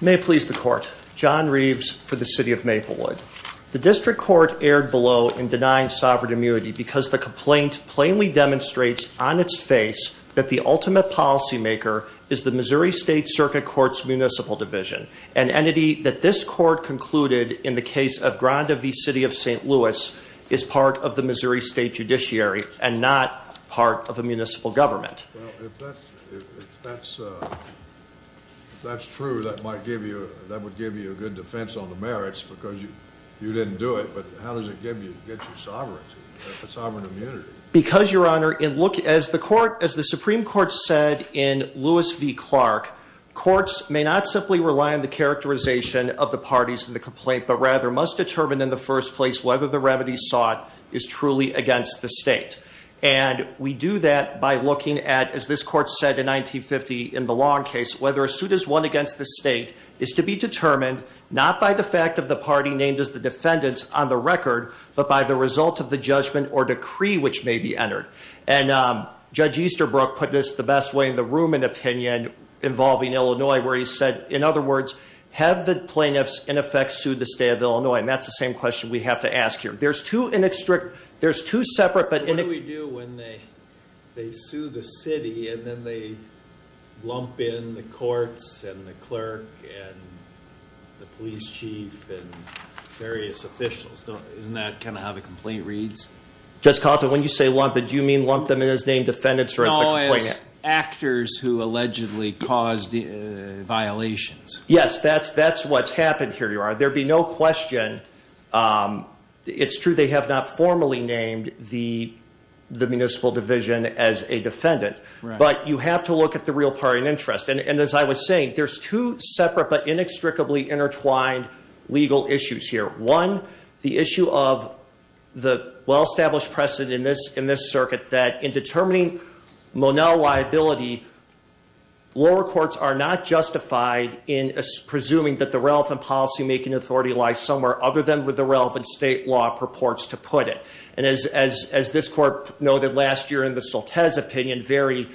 May it please the Court, John Reeves for the City of Maplewood. The District Court erred below in denying sovereign immunity because the complaint plainly demonstrates on its face that the ultimate policymaker is the Missouri State Circuit Court's Municipal Division, an entity that this Court concluded in the case of Granda v. City of St. Louis is part of the Missouri State Judiciary and not part of a municipal government. Well, if that's true, that would give you a good defense on the merits because you didn't do it, but how does it get you sovereign immunity? Because Your Honor, as the Supreme Court said in Lewis v. Clark, courts may not simply rely on the characterization of the parties in the complaint, but rather must determine in the first place whether the remedy sought is truly against the state. And we do that by looking at, as this Court said in 1950 in the Long case, whether a suit is won against the state is to be determined not by the fact of the party named as the And Judge Easterbrook put this the best way in the Ruman opinion involving Illinois, where he said, in other words, have the plaintiffs in effect sued the State of Illinois? And that's the same question we have to ask here. There's two separate... What do we do when they sue the city and then they lump in the courts and the clerk and the police chief and various officials? Isn't that kind of how the complaint reads? Judge Conta, when you say lump in, do you mean lump them in as named defendants or as the complainant? No, as actors who allegedly caused violations. Yes, that's what's happened here, Your Honor. There'd be no question. It's true they have not formally named the municipal division as a defendant, but you have to look at the real party and interest. And as I was saying, there's two separate but inextricably intertwined legal issues here. One, the issue of the well-established precedent in this circuit that in determining Monell liability, lower courts are not justified in presuming that the relevant policymaking authority lies somewhere other than with the relevant state law purports to put it. And as this court noted last year in the Soltes opinion very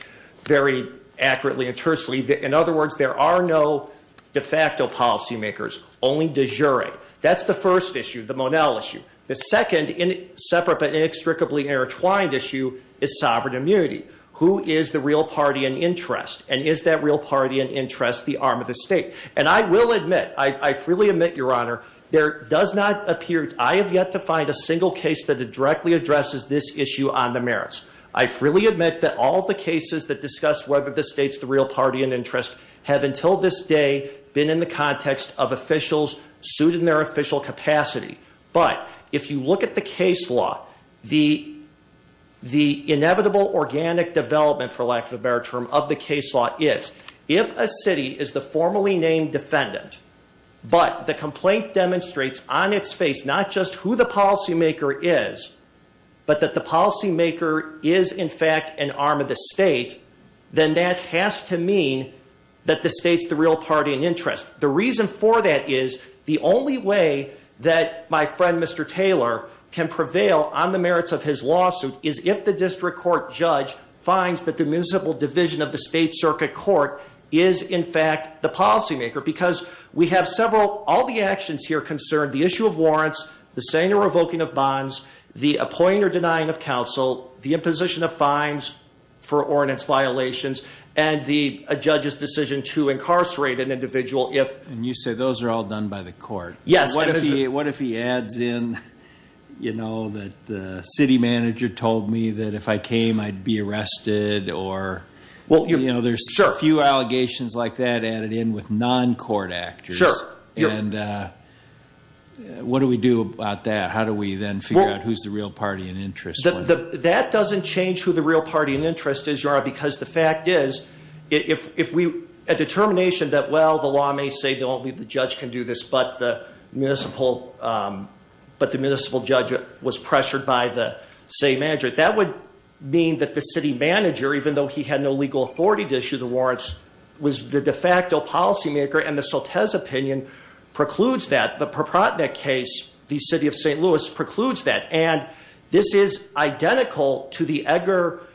accurately and truthfully, in other words, there are no de facto policymakers, only de jure. That's the first issue, the Monell issue. The second separate but inextricably intertwined issue is sovereign immunity. Who is the real party and interest? And is that real party and interest the arm of the state? And I will admit, I freely admit, Your Honor, there does not appear, I have yet to find a single case that directly addresses this issue on the merits. I freely admit that all the cases that discuss whether the state's the real party and interest have until this day been in the context of officials suited in their official capacity. But if you look at the case law, the inevitable organic development for lack of a better term of the case law is, if a city is the formally named defendant, but the complaint demonstrates on its face not just who the policymaker is, but that the policymaker is in fact an arm of the state, then that has to mean that the state's the real party and interest. The reason for that is the only way that my friend Mr. Taylor can prevail on the merits of his lawsuit is if the district court judge finds that the municipal division of the state circuit court is in fact the policymaker. Because we have several, all the actions here concern the issue of warrants, the saying or revoking of bonds, the appointing or denying of counsel, the imposition of fines for ordinance violations, and the judge's decision to incarcerate an individual if... And you say those are all done by the court. Yes. What if he adds in, you know, that the city manager told me that if I came, I'd be arrested, or, you know, there's a few allegations like that added in with non-court actors. Sure. And what do we do about that? How do we then figure out who's the real party and interest? That doesn't change who the real party and interest is, because the fact is, if we, a determination that, well, the law may say only the judge can do this, but the municipal judge was pressured by the state manager. That would mean that the city manager, even though he had no legal authority to issue the warrants, was the de facto policymaker, and the Soltes opinion precludes that. The Propratnik case, the city of St. Louis precludes that. And this is identical to the Egger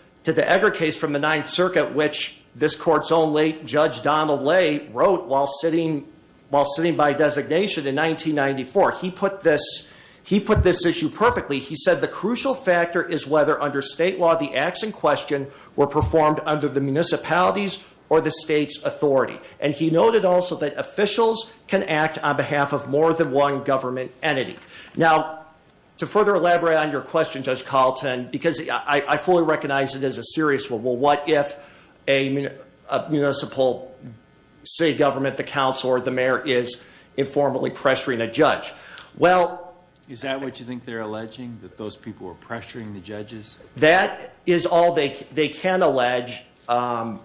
case from the Ninth Circuit, which this court's own late Judge Donald Lay wrote while sitting by designation in 1994. He put this issue perfectly. He said, the crucial factor is whether under state law, the acts in question were performed under the municipality's or the state's authority. And he noted also that officials can act on behalf of more than one government entity. Now, to further elaborate on your question, Judge Carlton, because I fully recognize it as a serious one. Well, what if a municipal state government, the council, or the mayor, is informally pressuring a judge? Well- Is that what you think they're alleging, that those people are pressuring the judges? That is all they can allege, two answers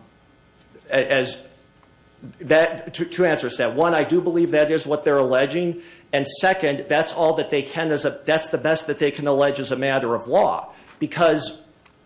to that. One, I do believe that is what they're alleging. And second, that's all that they can, that's the best that they can allege as a matter of law. Because,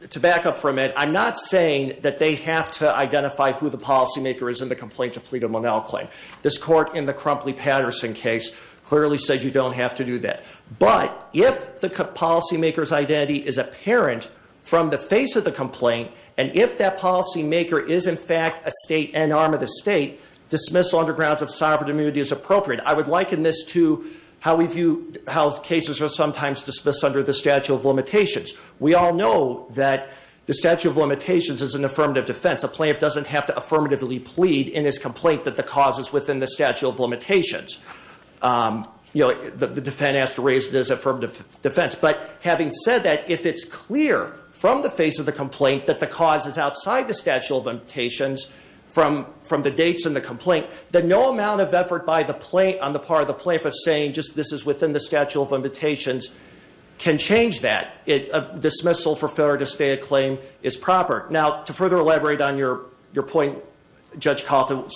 to back up from it, I'm not saying that they have to identify who the policymaker is in the complaint to plead a Monel claim. This court in the Crumpley-Patterson case clearly said you don't have to do that. But if the policymaker's identity is apparent from the face of the complaint, and if that policymaker is in fact an arm of the state, dismissal under grounds of sovereign immunity is appropriate. I would liken this to how cases are sometimes dismissed under the Statute of Limitations. We all know that the Statute of Limitations is an affirmative defense. A plaintiff doesn't have to affirmatively plead in his complaint that the cause is within the Statute of Limitations. The defendant has to raise it as affirmative defense. But having said that, if it's clear from the face of the complaint that the cause is outside the Statute of Limitations, from the dates in the complaint, that no amount of effort on the part of the plaintiff of saying, just this is within the Statute of Limitations, can change that. A dismissal for failure to state a claim is proper. Now, to further elaborate on your point, Judge Caldwell,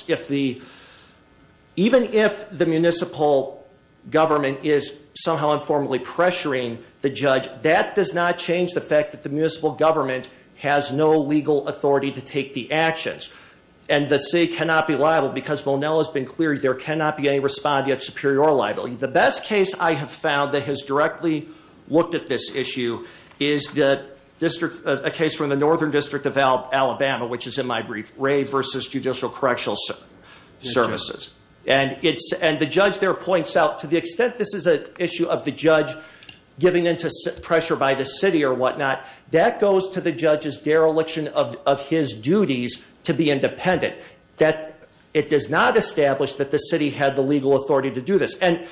even if the municipal government is somehow informally pressuring the judge, that does not change the fact that the municipal government has no legal authority to take the actions. And the state cannot be liable, because Monell has been clear, there cannot be any respond yet superior liability. The best case I have found that has directly looked at this issue is a case from the Northern District of Alabama, which is in my brief, Ray versus Judicial Correctional Services. And the judge there points out, to the extent this is an issue of the judge giving into pressure by the city or what not, that goes to the judge's dereliction of his duties to be independent. That it does not establish that the city had the legal authority to do this. And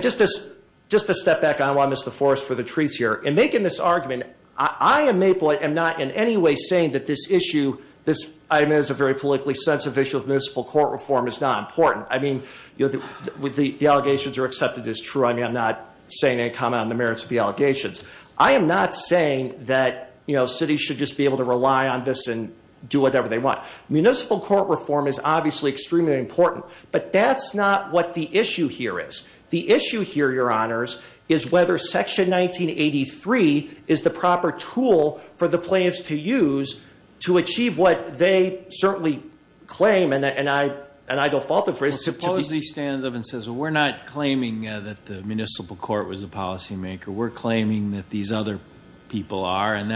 just to step back on why I missed the forest for the trees here. In making this argument, I am Maple, I am not in any way saying that this issue, this item is a very politically sensitive issue of municipal court reform is not important. I mean, the allegations are accepted as true. I mean, I'm not saying any comment on the merits of the allegations. I am not saying that cities should just be able to rely on this and do whatever they want. Municipal court reform is obviously extremely important, but that's not what the issue here is. The issue here, your honors, is whether section 1983 is the proper tool for the plaintiffs to use to achieve what they certainly claim, and I don't fault them for it. Suppose he stands up and says, well, we're not claiming that the municipal court was a policy maker. We're claiming that these other people are, and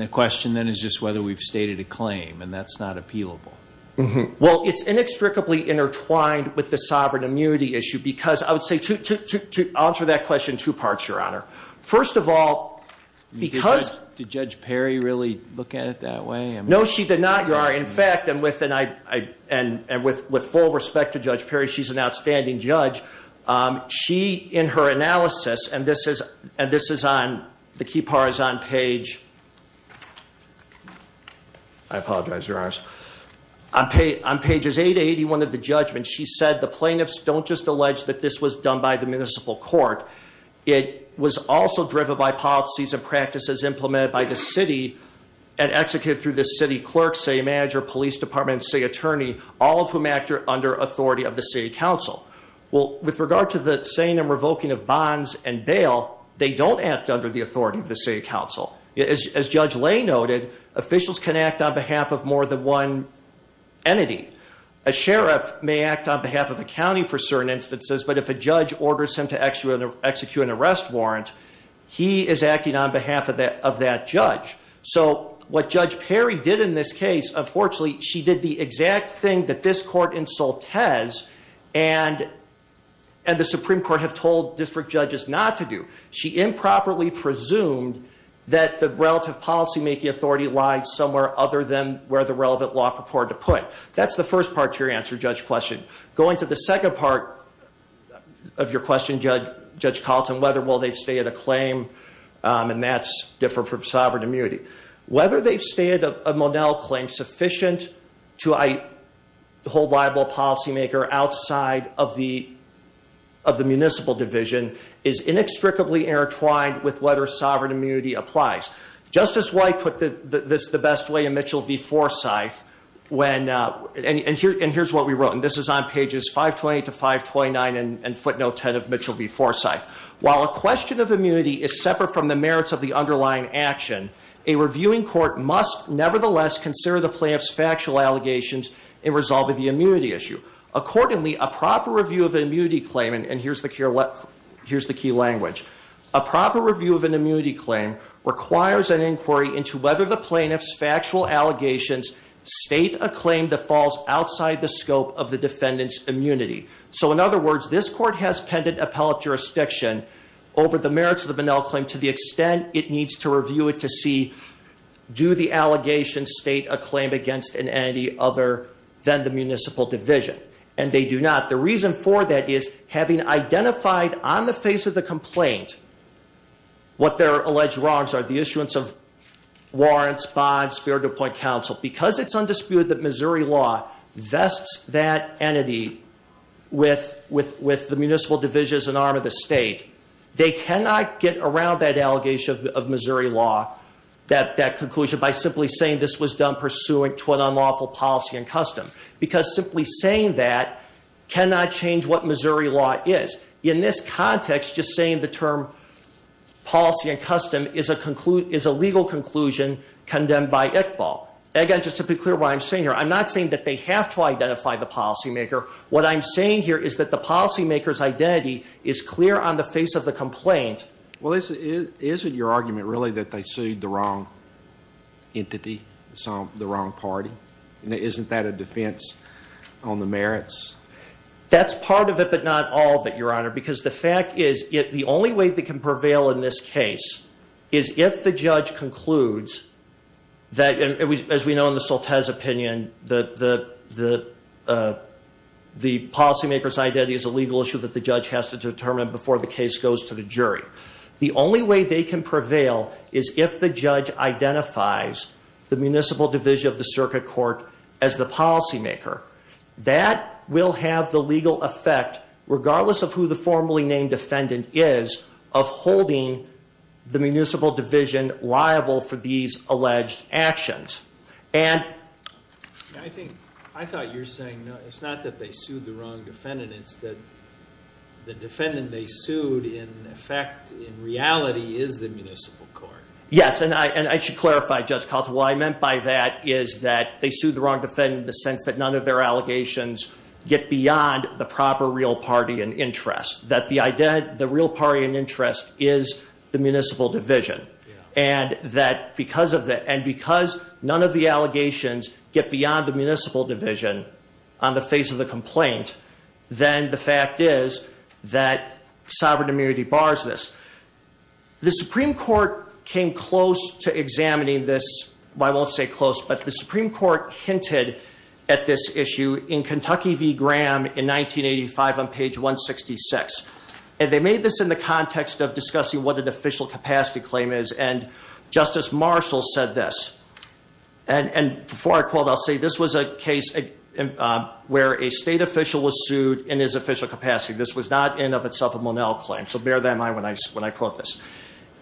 the question then is just whether we've stated a claim, and that's not appealable. Well, it's inextricably intertwined with the sovereign immunity issue, because I would say, to answer that question, two parts, your honor. First of all, because- Did Judge Perry really look at it that way? No, she did not, your honor. In fact, and with full respect to Judge Perry, she's an outstanding judge. She, in her analysis, and this is on, the key part is on page, I apologize, your honors, on pages 881 of the judgment, she said the plaintiffs don't just allege that this was done by the municipal court. It was also driven by policies and practices implemented by the city and executed through the city clerk, city manager, police department, city attorney, all of whom act under authority of the city council. Well, with regard to the saying and revoking of bonds and bail, they don't act under the authority of the city council. As Judge Lay noted, officials can act on behalf of more than one entity. A sheriff may act on behalf of a county for certain instances, but if a judge orders him to execute an arrest warrant, he is acting on behalf of that judge. So, what Judge Perry did in this case, unfortunately, she did the exact thing that this court insult has, and the Supreme Court have told district judges not to do. She improperly presumed that the relative policymaking authority lied somewhere other than where the relevant law purported to put. That's the first part to your answer, Judge Question. Going to the second part of your question, Judge Carlton, whether will they stay at a claim, and that's different from sovereign immunity. Whether they stay at a Monell claim sufficient to hold liable policymaker outside of the municipal division is inextricably intertwined with whether sovereign immunity applies. Justice White put this the best way in Mitchell v Forsyth, and here's what we wrote. And this is on pages 520 to 529 in footnote 10 of Mitchell v Forsyth. While a question of immunity is separate from the merits of the underlying action, a reviewing court must nevertheless consider the plaintiff's factual allegations in resolving the immunity issue. Accordingly, a proper review of an immunity claim, and here's the key language. A proper review of an immunity claim requires an inquiry into whether the plaintiff's factual allegations state a claim that falls outside the scope of the defendant's immunity. So in other words, this court has pended appellate jurisdiction over the merits of the Monell claim to the extent it needs to review it to see, do the allegations state a claim against an entity other than the municipal division? And they do not. The reason for that is, having identified on the face of the complaint what their alleged wrongs are, the issuance of warrants, bonds, fair to appoint counsel. Because it's undisputed that Missouri law vests that entity with the municipal division as an arm of the state. They cannot get around that allegation of Missouri law, that conclusion by simply saying this was done pursuant to an unlawful policy and custom. Because simply saying that cannot change what Missouri law is. In this context, just saying the term policy and custom is a legal conclusion condemned by Iqbal. Again, just to be clear what I'm saying here, I'm not saying that they have to identify the policy maker. What I'm saying here is that the policy maker's identity is clear on the face of the complaint. Well, isn't your argument really that they sued the wrong entity, the wrong party? And isn't that a defense on the merits? That's part of it, but not all of it, your honor. Because the fact is, the only way they can prevail in this case is if the judge concludes that, as we know in the Soltes opinion, the policy maker's identity is a legal issue that the judge has to determine before the case goes to the jury. The only way they can prevail is if the judge identifies the municipal division of the circuit court as the policy maker. That will have the legal effect, regardless of who the formally named defendant is, of holding the municipal division liable for these alleged actions. And I think, I thought you were saying, it's not that they sued the wrong defendant, it's that the defendant they sued, in effect, in reality, is the municipal court. Yes, and I should clarify, Judge Caldwell, what I meant by that is that they sued the wrong defendant in the sense that none of their allegations get beyond the proper real party and interest, that the real party and interest is the municipal division. And because none of the allegations get beyond the municipal division on the face of the complaint, then the fact is that sovereign immunity bars this. The Supreme Court came close to examining this, well I won't say close, but the Supreme Court hinted at this issue in Kentucky v Graham in 1985 on page 166. And they made this in the context of discussing what an official capacity claim is, and Justice Marshall said this. And before I quote, I'll say this was a case where a state official was sued in his official capacity. This was not in of itself a Monel claim, so bear that in mind when I quote this.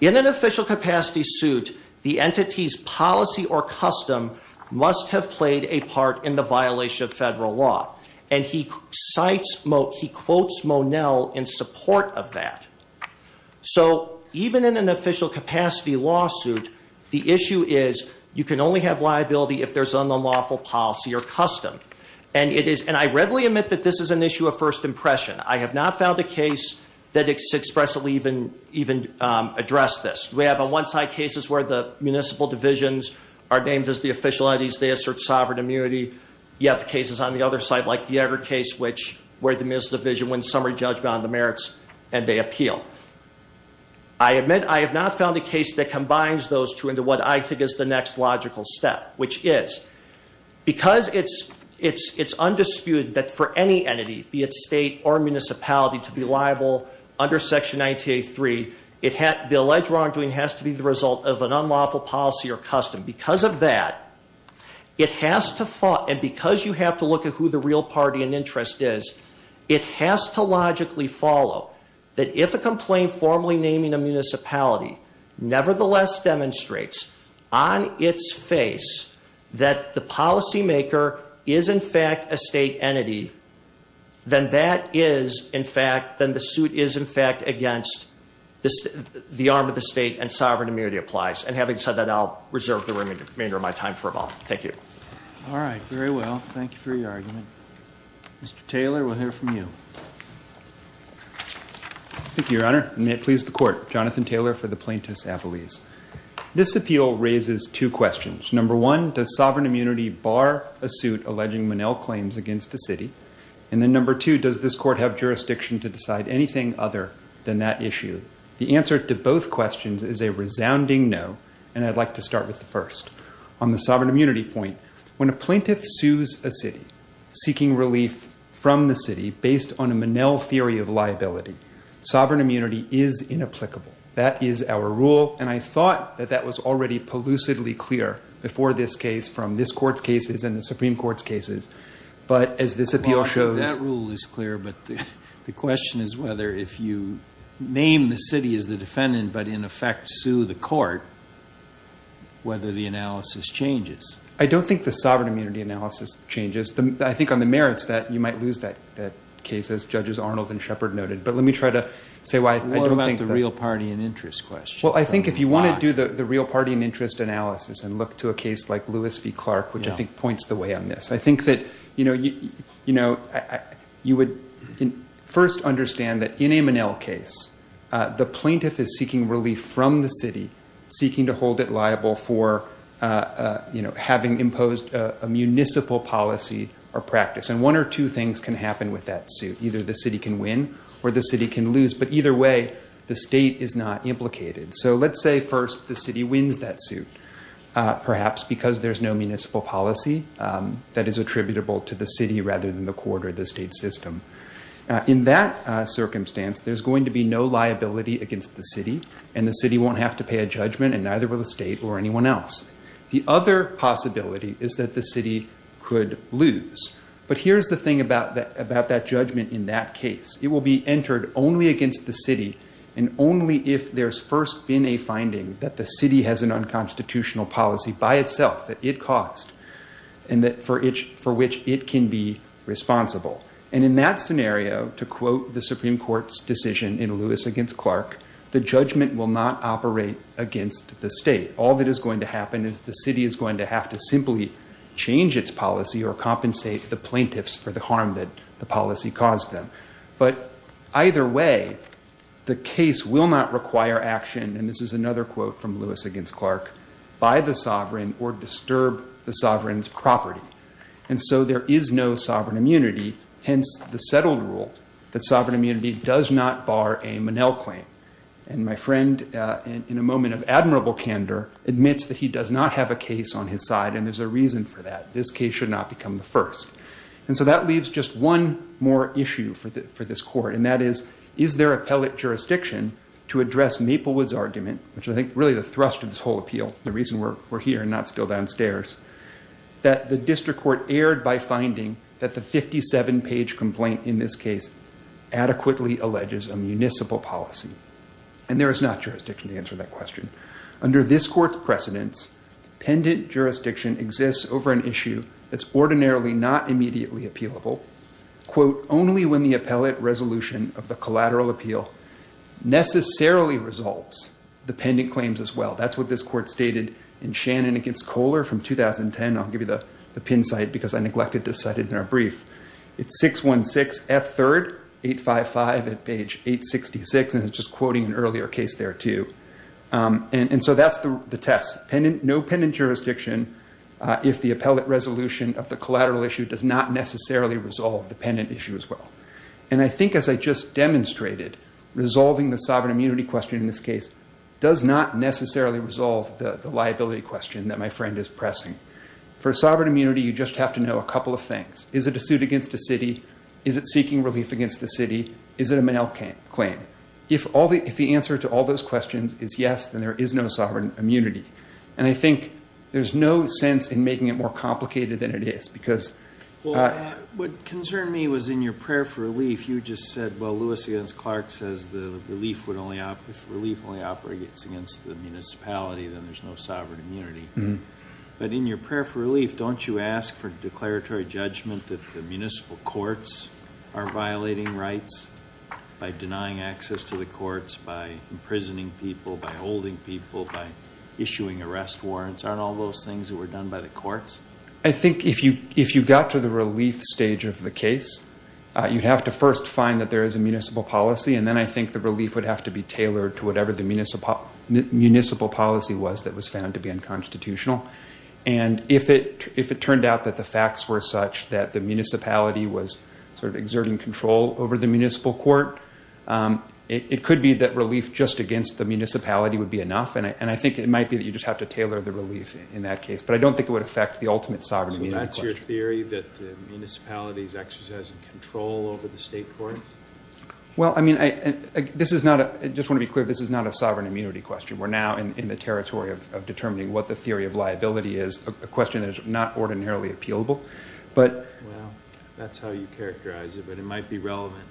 In an official capacity suit, the entity's policy or custom must have played a part in the violation of federal law. And he quotes Monel in support of that. So even in an official capacity lawsuit, the issue is you can only have liability if there's unlawful policy or custom. And I readily admit that this is an issue of first impression. I have not found a case that has expressly even addressed this. We have on one side cases where the municipal divisions are named as the official entities, they assert sovereign immunity. You have cases on the other side, like the Egger case, which where the municipal division wins summary judgment on the merits, and they appeal. I admit I have not found a case that combines those two into what I think is the next logical step, which is, because it's undisputed that for any entity, be it state or municipality, to be liable under section 1983, the alleged wrongdoing has to be the result of an unlawful policy or custom. Because of that, it has to, and because you have to look at who the real party and interest is, it has to logically follow that if a complaint formally naming a municipality nevertheless demonstrates on its face that the policy maker is in fact a state entity, then that is in fact, then the suit is in fact against the arm of the state and sovereign immunity applies. And having said that, I'll reserve the remainder of my time for a moment. Thank you. All right, very well. Thank you for your argument. Mr. Taylor, we'll hear from you. Thank you, Your Honor, and may it please the court. Jonathan Taylor for the plaintiff's appellees. This appeal raises two questions. Number one, does sovereign immunity bar a suit alleging Monell claims against the city? And then number two, does this court have jurisdiction to decide anything other than that issue? The answer to both questions is a resounding no, and I'd like to start with the first. On the sovereign immunity point, when a plaintiff sues a city, seeking relief from the city based on a Monell theory of liability, sovereign immunity is inapplicable. That is our rule, and I thought that that was already plucidly clear before this case from this court's cases and the Supreme Court's cases. But as this appeal shows- The city is the defendant, but in effect, sue the court, whether the analysis changes. I don't think the sovereign immunity analysis changes. I think on the merits that you might lose that case, as Judges Arnold and Shepherd noted. But let me try to say why I don't think that- What about the real party and interest question? Well, I think if you want to do the real party and interest analysis and look to a case like Lewis v. Clark, which I think points the way on this. I think that you would first understand that in a Monell case, the plaintiff is seeking relief from the city, seeking to hold it liable for having imposed a municipal policy or practice. And one or two things can happen with that suit. Either the city can win or the city can lose, but either way, the state is not implicated. So let's say first the city wins that suit, perhaps because there's no municipal policy that is attributable to the city rather than the court or the state system. In that circumstance, there's going to be no liability against the city, and the city won't have to pay a judgment, and neither will the state or anyone else. The other possibility is that the city could lose. But here's the thing about that judgment in that case. It will be entered only against the city, and only if there's first been a finding that the city has an unconstitutional policy by itself that it caused, and that for which it can be responsible. And in that scenario, to quote the Supreme Court's decision in Lewis against Clark, the judgment will not operate against the state. All that is going to happen is the city is going to have to simply change its policy or compensate the plaintiffs for the harm that the policy caused them. But either way, the case will not require action, and this is another quote from Lewis against Clark, by the sovereign or disturb the sovereign's property. And so there is no sovereign immunity, hence the settled rule that sovereign immunity does not bar a Monell claim. And my friend, in a moment of admirable candor, admits that he does not have a case on his side, and there's a reason for that. This case should not become the first. And so that leaves just one more issue for this court, and that is, is there appellate jurisdiction to address Maplewood's argument, which I think really the thrust of this whole appeal, the reason we're here and not still downstairs, that the district court erred by finding that the 57-page complaint in this case adequately alleges a municipal policy. And there is not jurisdiction to answer that question. Under this court's precedence, pendant jurisdiction exists over an issue that's ordinarily not immediately appealable, quote, only when the appellate resolution of the collateral appeal necessarily results the pendant claims as well. That's what this court stated in Shannon against Kohler from 2010. I'll give you the pin site because I neglected to cite it in our brief. It's 616 F3rd 855 at page 866, and it's just quoting an earlier case there too. And so that's the test, no pendant jurisdiction if the appellate resolution of the collateral issue does not necessarily resolve the pendant issue as well. And I think as I just demonstrated, resolving the sovereign immunity question in this case does not necessarily resolve the liability question that my friend is pressing. For sovereign immunity, you just have to know a couple of things. Is it a suit against the city? Is it seeking relief against the city? Is it a male claim? If the answer to all those questions is yes, then there is no sovereign immunity. And I think there's no sense in making it more complicated than it is because- Well, what concerned me was in your prayer for relief, you just said, well, the notice against Clark says if relief only operates against the municipality, then there's no sovereign immunity. But in your prayer for relief, don't you ask for declaratory judgment that the municipal courts are violating rights by denying access to the courts, by imprisoning people, by holding people, by issuing arrest warrants? Aren't all those things that were done by the courts? I think if you got to the relief stage of the case, you'd have to first find that there is a municipal policy, and then I think the relief would have to be tailored to whatever the municipal policy was that was found to be unconstitutional. And if it turned out that the facts were such that the municipality was sort of exerting control over the municipal court, it could be that relief just against the municipality would be enough. And I think it might be that you just have to tailor the relief in that case. But I don't think it would affect the ultimate sovereign immunity question. Is it a theory that the municipality is exercising control over the state courts? Well, I mean, I just want to be clear, this is not a sovereign immunity question. We're now in the territory of determining what the theory of liability is, a question that is not ordinarily appealable. Well, that's how you characterize it. But it might be relevant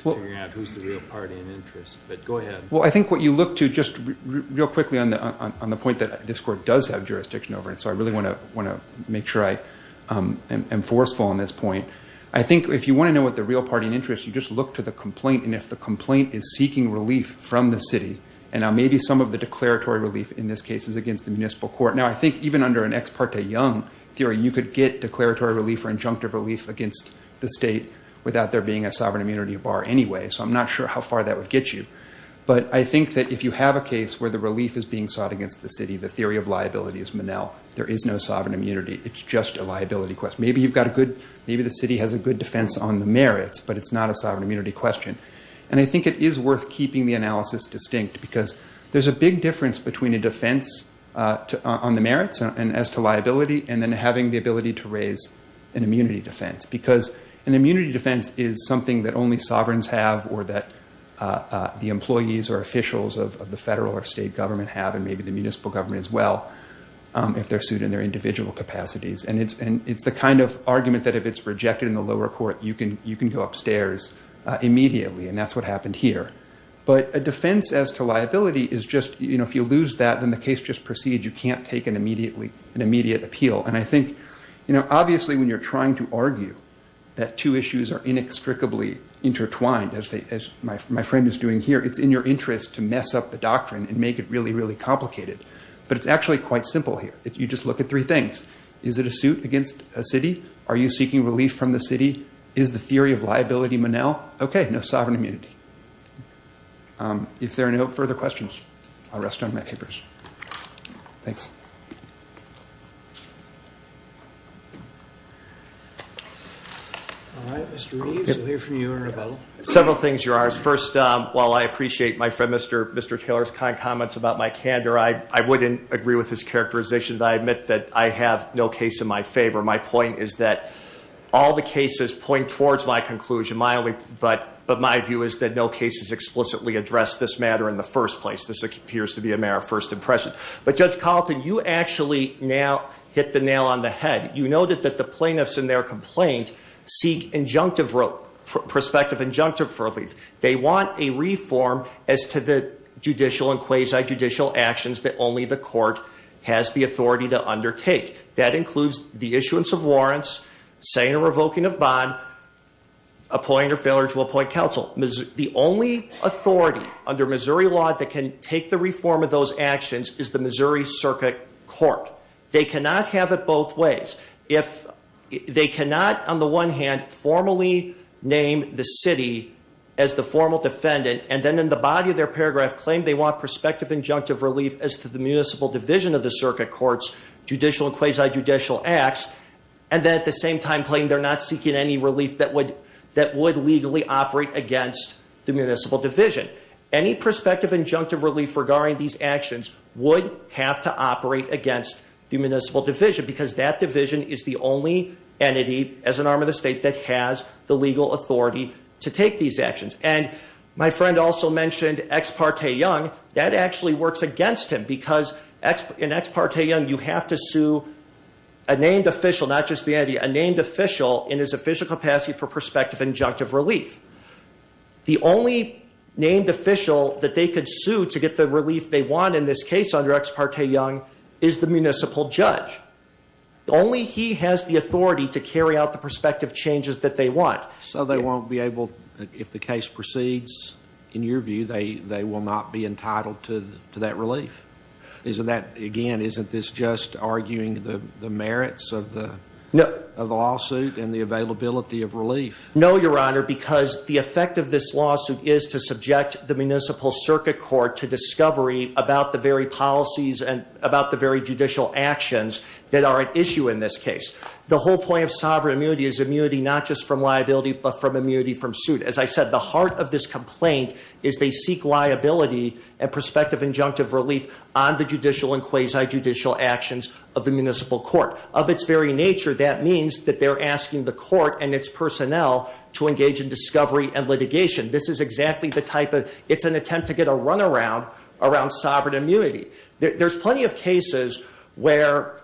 to figuring out who's the real party in interest. But go ahead. Well, I think what you look to, just real quickly on the point that this court does have jurisdiction over it, so I really want to make sure I am forceful on this point. I think if you want to know what the real party in interest, you just look to the complaint. And if the complaint is seeking relief from the city, and maybe some of the declaratory relief in this case is against the municipal court. Now, I think even under an ex parte Young theory, you could get declaratory relief or injunctive relief against the state without there being a sovereign immunity bar anyway. So I'm not sure how far that would get you. But I think that if you have a case where the relief is being sought against the city, the theory of liability is Manel. There is no sovereign immunity. It's just a liability question. Maybe you've got a good, maybe the city has a good defense on the merits, but it's not a sovereign immunity question. And I think it is worth keeping the analysis distinct, because there's a big difference between a defense on the merits and as to liability, and then having the ability to raise an immunity defense. Because an immunity defense is something that only sovereigns have, or that the employees or officials of the federal or state government have, and maybe the municipal government as well, if they're sued in their individual capacities. And it's the kind of argument that if it's rejected in the lower court, you can go upstairs immediately. And that's what happened here. But a defense as to liability is just, you know, if you lose that, then the case just proceeds. You can't take an immediate appeal. And I think, you know, obviously when you're trying to argue that two issues are inextricably intertwined, as my friend is doing here, it's in your interest to mess up the doctrine and make it really, really complicated. But it's actually quite simple here. You just look at three things. Is it a suit against a city? Are you seeking relief from the city? Is the theory of liability Monell? Okay, no sovereign immunity. If there are no further questions, I'll rest on my papers. Thanks. All right, Mr. Reeves, we'll hear from you in a moment. Several things, Your Honors. First, while I appreciate my friend Mr. Taylor's kind comments about my candor, I wouldn't agree with his characterization that I admit that I have no case in my favor. My point is that all the cases point towards my conclusion, but my view is that no cases explicitly address this matter in the first place. This appears to be a mere first impression. But, Judge Carlton, you actually now hit the nail on the head. You noted that the plaintiffs in their complaint seek injunctive, prospective injunctive relief. They want a reform as to the judicial and quasi-judicial actions that only the court has the authority to undertake. That includes the issuance of warrants, saying or revoking of bond, appointing or failing to appoint counsel. The only authority under Missouri law that can take the reform of those actions is the Missouri Circuit Court. They cannot have it both ways. They cannot, on the one hand, formally name the city as the formal defendant, and then in the body of their paragraph claim they want prospective injunctive relief as to the municipal division of the circuit court's judicial and quasi-judicial acts, and then at the same time claim they're not seeking any relief that would legally operate against the municipal division. Any prospective injunctive relief regarding these actions would have to operate against the municipal division because that division is the only entity as an arm of the state that has the legal authority to take these actions. My friend also mentioned Ex parte Young. That actually works against him because in Ex parte Young you have to sue a named official, not just the entity, a named official in his official capacity for prospective injunctive relief. The only named official that they could sue to get the relief they want in this case under Ex parte Young is the municipal judge. Only he has the authority to carry out the prospective changes that they want. So they won't be able, if the case proceeds, in your view, they will not be entitled to that relief? Again, isn't this just arguing the merits of the lawsuit and the availability of relief? No, Your Honor, because the effect of this lawsuit is to subject the municipal circuit court to discovery about the very policies and about the very judicial actions that are at issue in this case. The whole point of sovereign immunity is immunity not just from liability but from immunity from suit. As I said, the heart of this complaint is they seek liability and prospective injunctive relief on the judicial and quasi-judicial actions of the municipal court. Of its very nature, that means that they're asking the court and its personnel to engage in discovery and litigation. This is exactly the type of, it's an attempt to get a runaround around sovereign immunity. There's plenty of cases where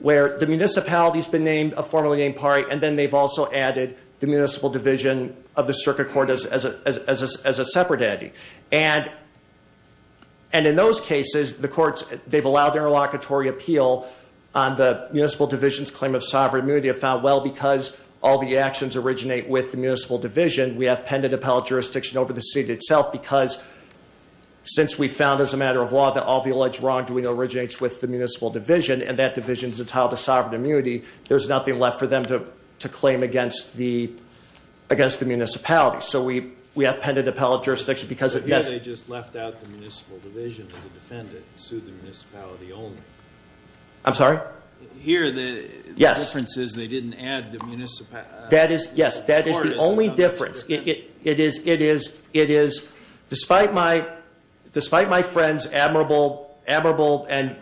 the municipality's been named, a formerly named party, and then they've also added the municipal division of the circuit court as a separate entity. In those cases, the courts, they've allowed interlocutory appeal on the municipal division's claim of sovereign immunity. I found, well, because all the actions originate with the municipal division, we have pendent appellate jurisdiction over the seat itself because since we found as a matter of law that all the alleged wrongdoing originates with the municipal division and that division is entitled to sovereign immunity, there's nothing left for them to claim against the municipality. So we have pendent appellate jurisdiction because of this. But here they just left out the municipal division as a defendant and sued the municipality only. I'm sorry? Here, the difference is they didn't add the municipality. That is, yes, that is the only difference. It is, despite my friend's admirable and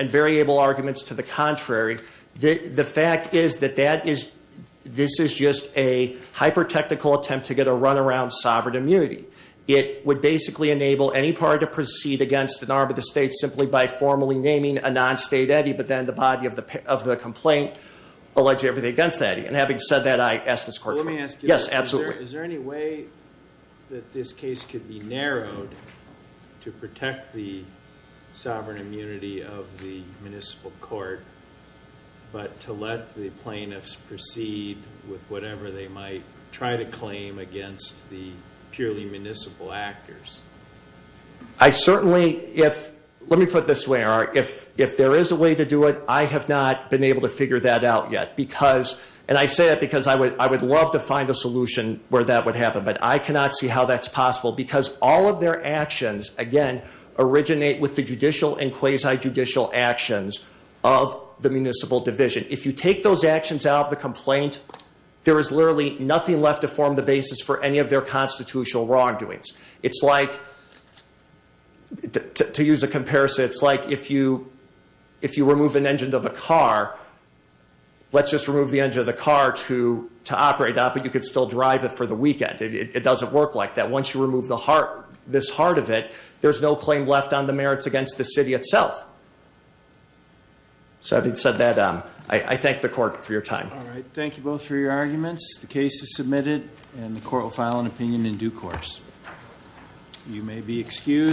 very able arguments to the contrary, the fact is that this is just a hyper-technical attempt to get a run around sovereign immunity. It would basically enable any party to proceed against an arm of the state simply by formally naming a non-state eddy, but then the body of the complaint alleges everything against that eddy. And having said that, I ask this court- Let me ask you- Yes, absolutely. Is there any way that this case could be narrowed to protect the sovereign immunity of the municipal court, but to let the plaintiffs proceed with whatever they might try to claim against the purely municipal actors? I certainly, if, let me put it this way, if there is a way to do it, I have not been able to figure that out yet because, and I say that because I would love to find a solution where that would happen. But I cannot see how that's possible because all of their actions, again, originate with the judicial and quasi-judicial actions of the municipal division. If you take those actions out of the complaint, there is literally nothing left to form the basis for any of their constitutional wrongdoings. It's like, to use a comparison, it's like if you remove an engine of a car, let's just remove the engine of the car to operate that, but you could still drive it for the weekend. It doesn't work like that. Once you remove this heart of it, there's no claim left on the merits against the city itself. So, having said that, I thank the court for your time. All right. Thank you both for your arguments. The case is submitted and the court will file an opinion in due course. You may be excused.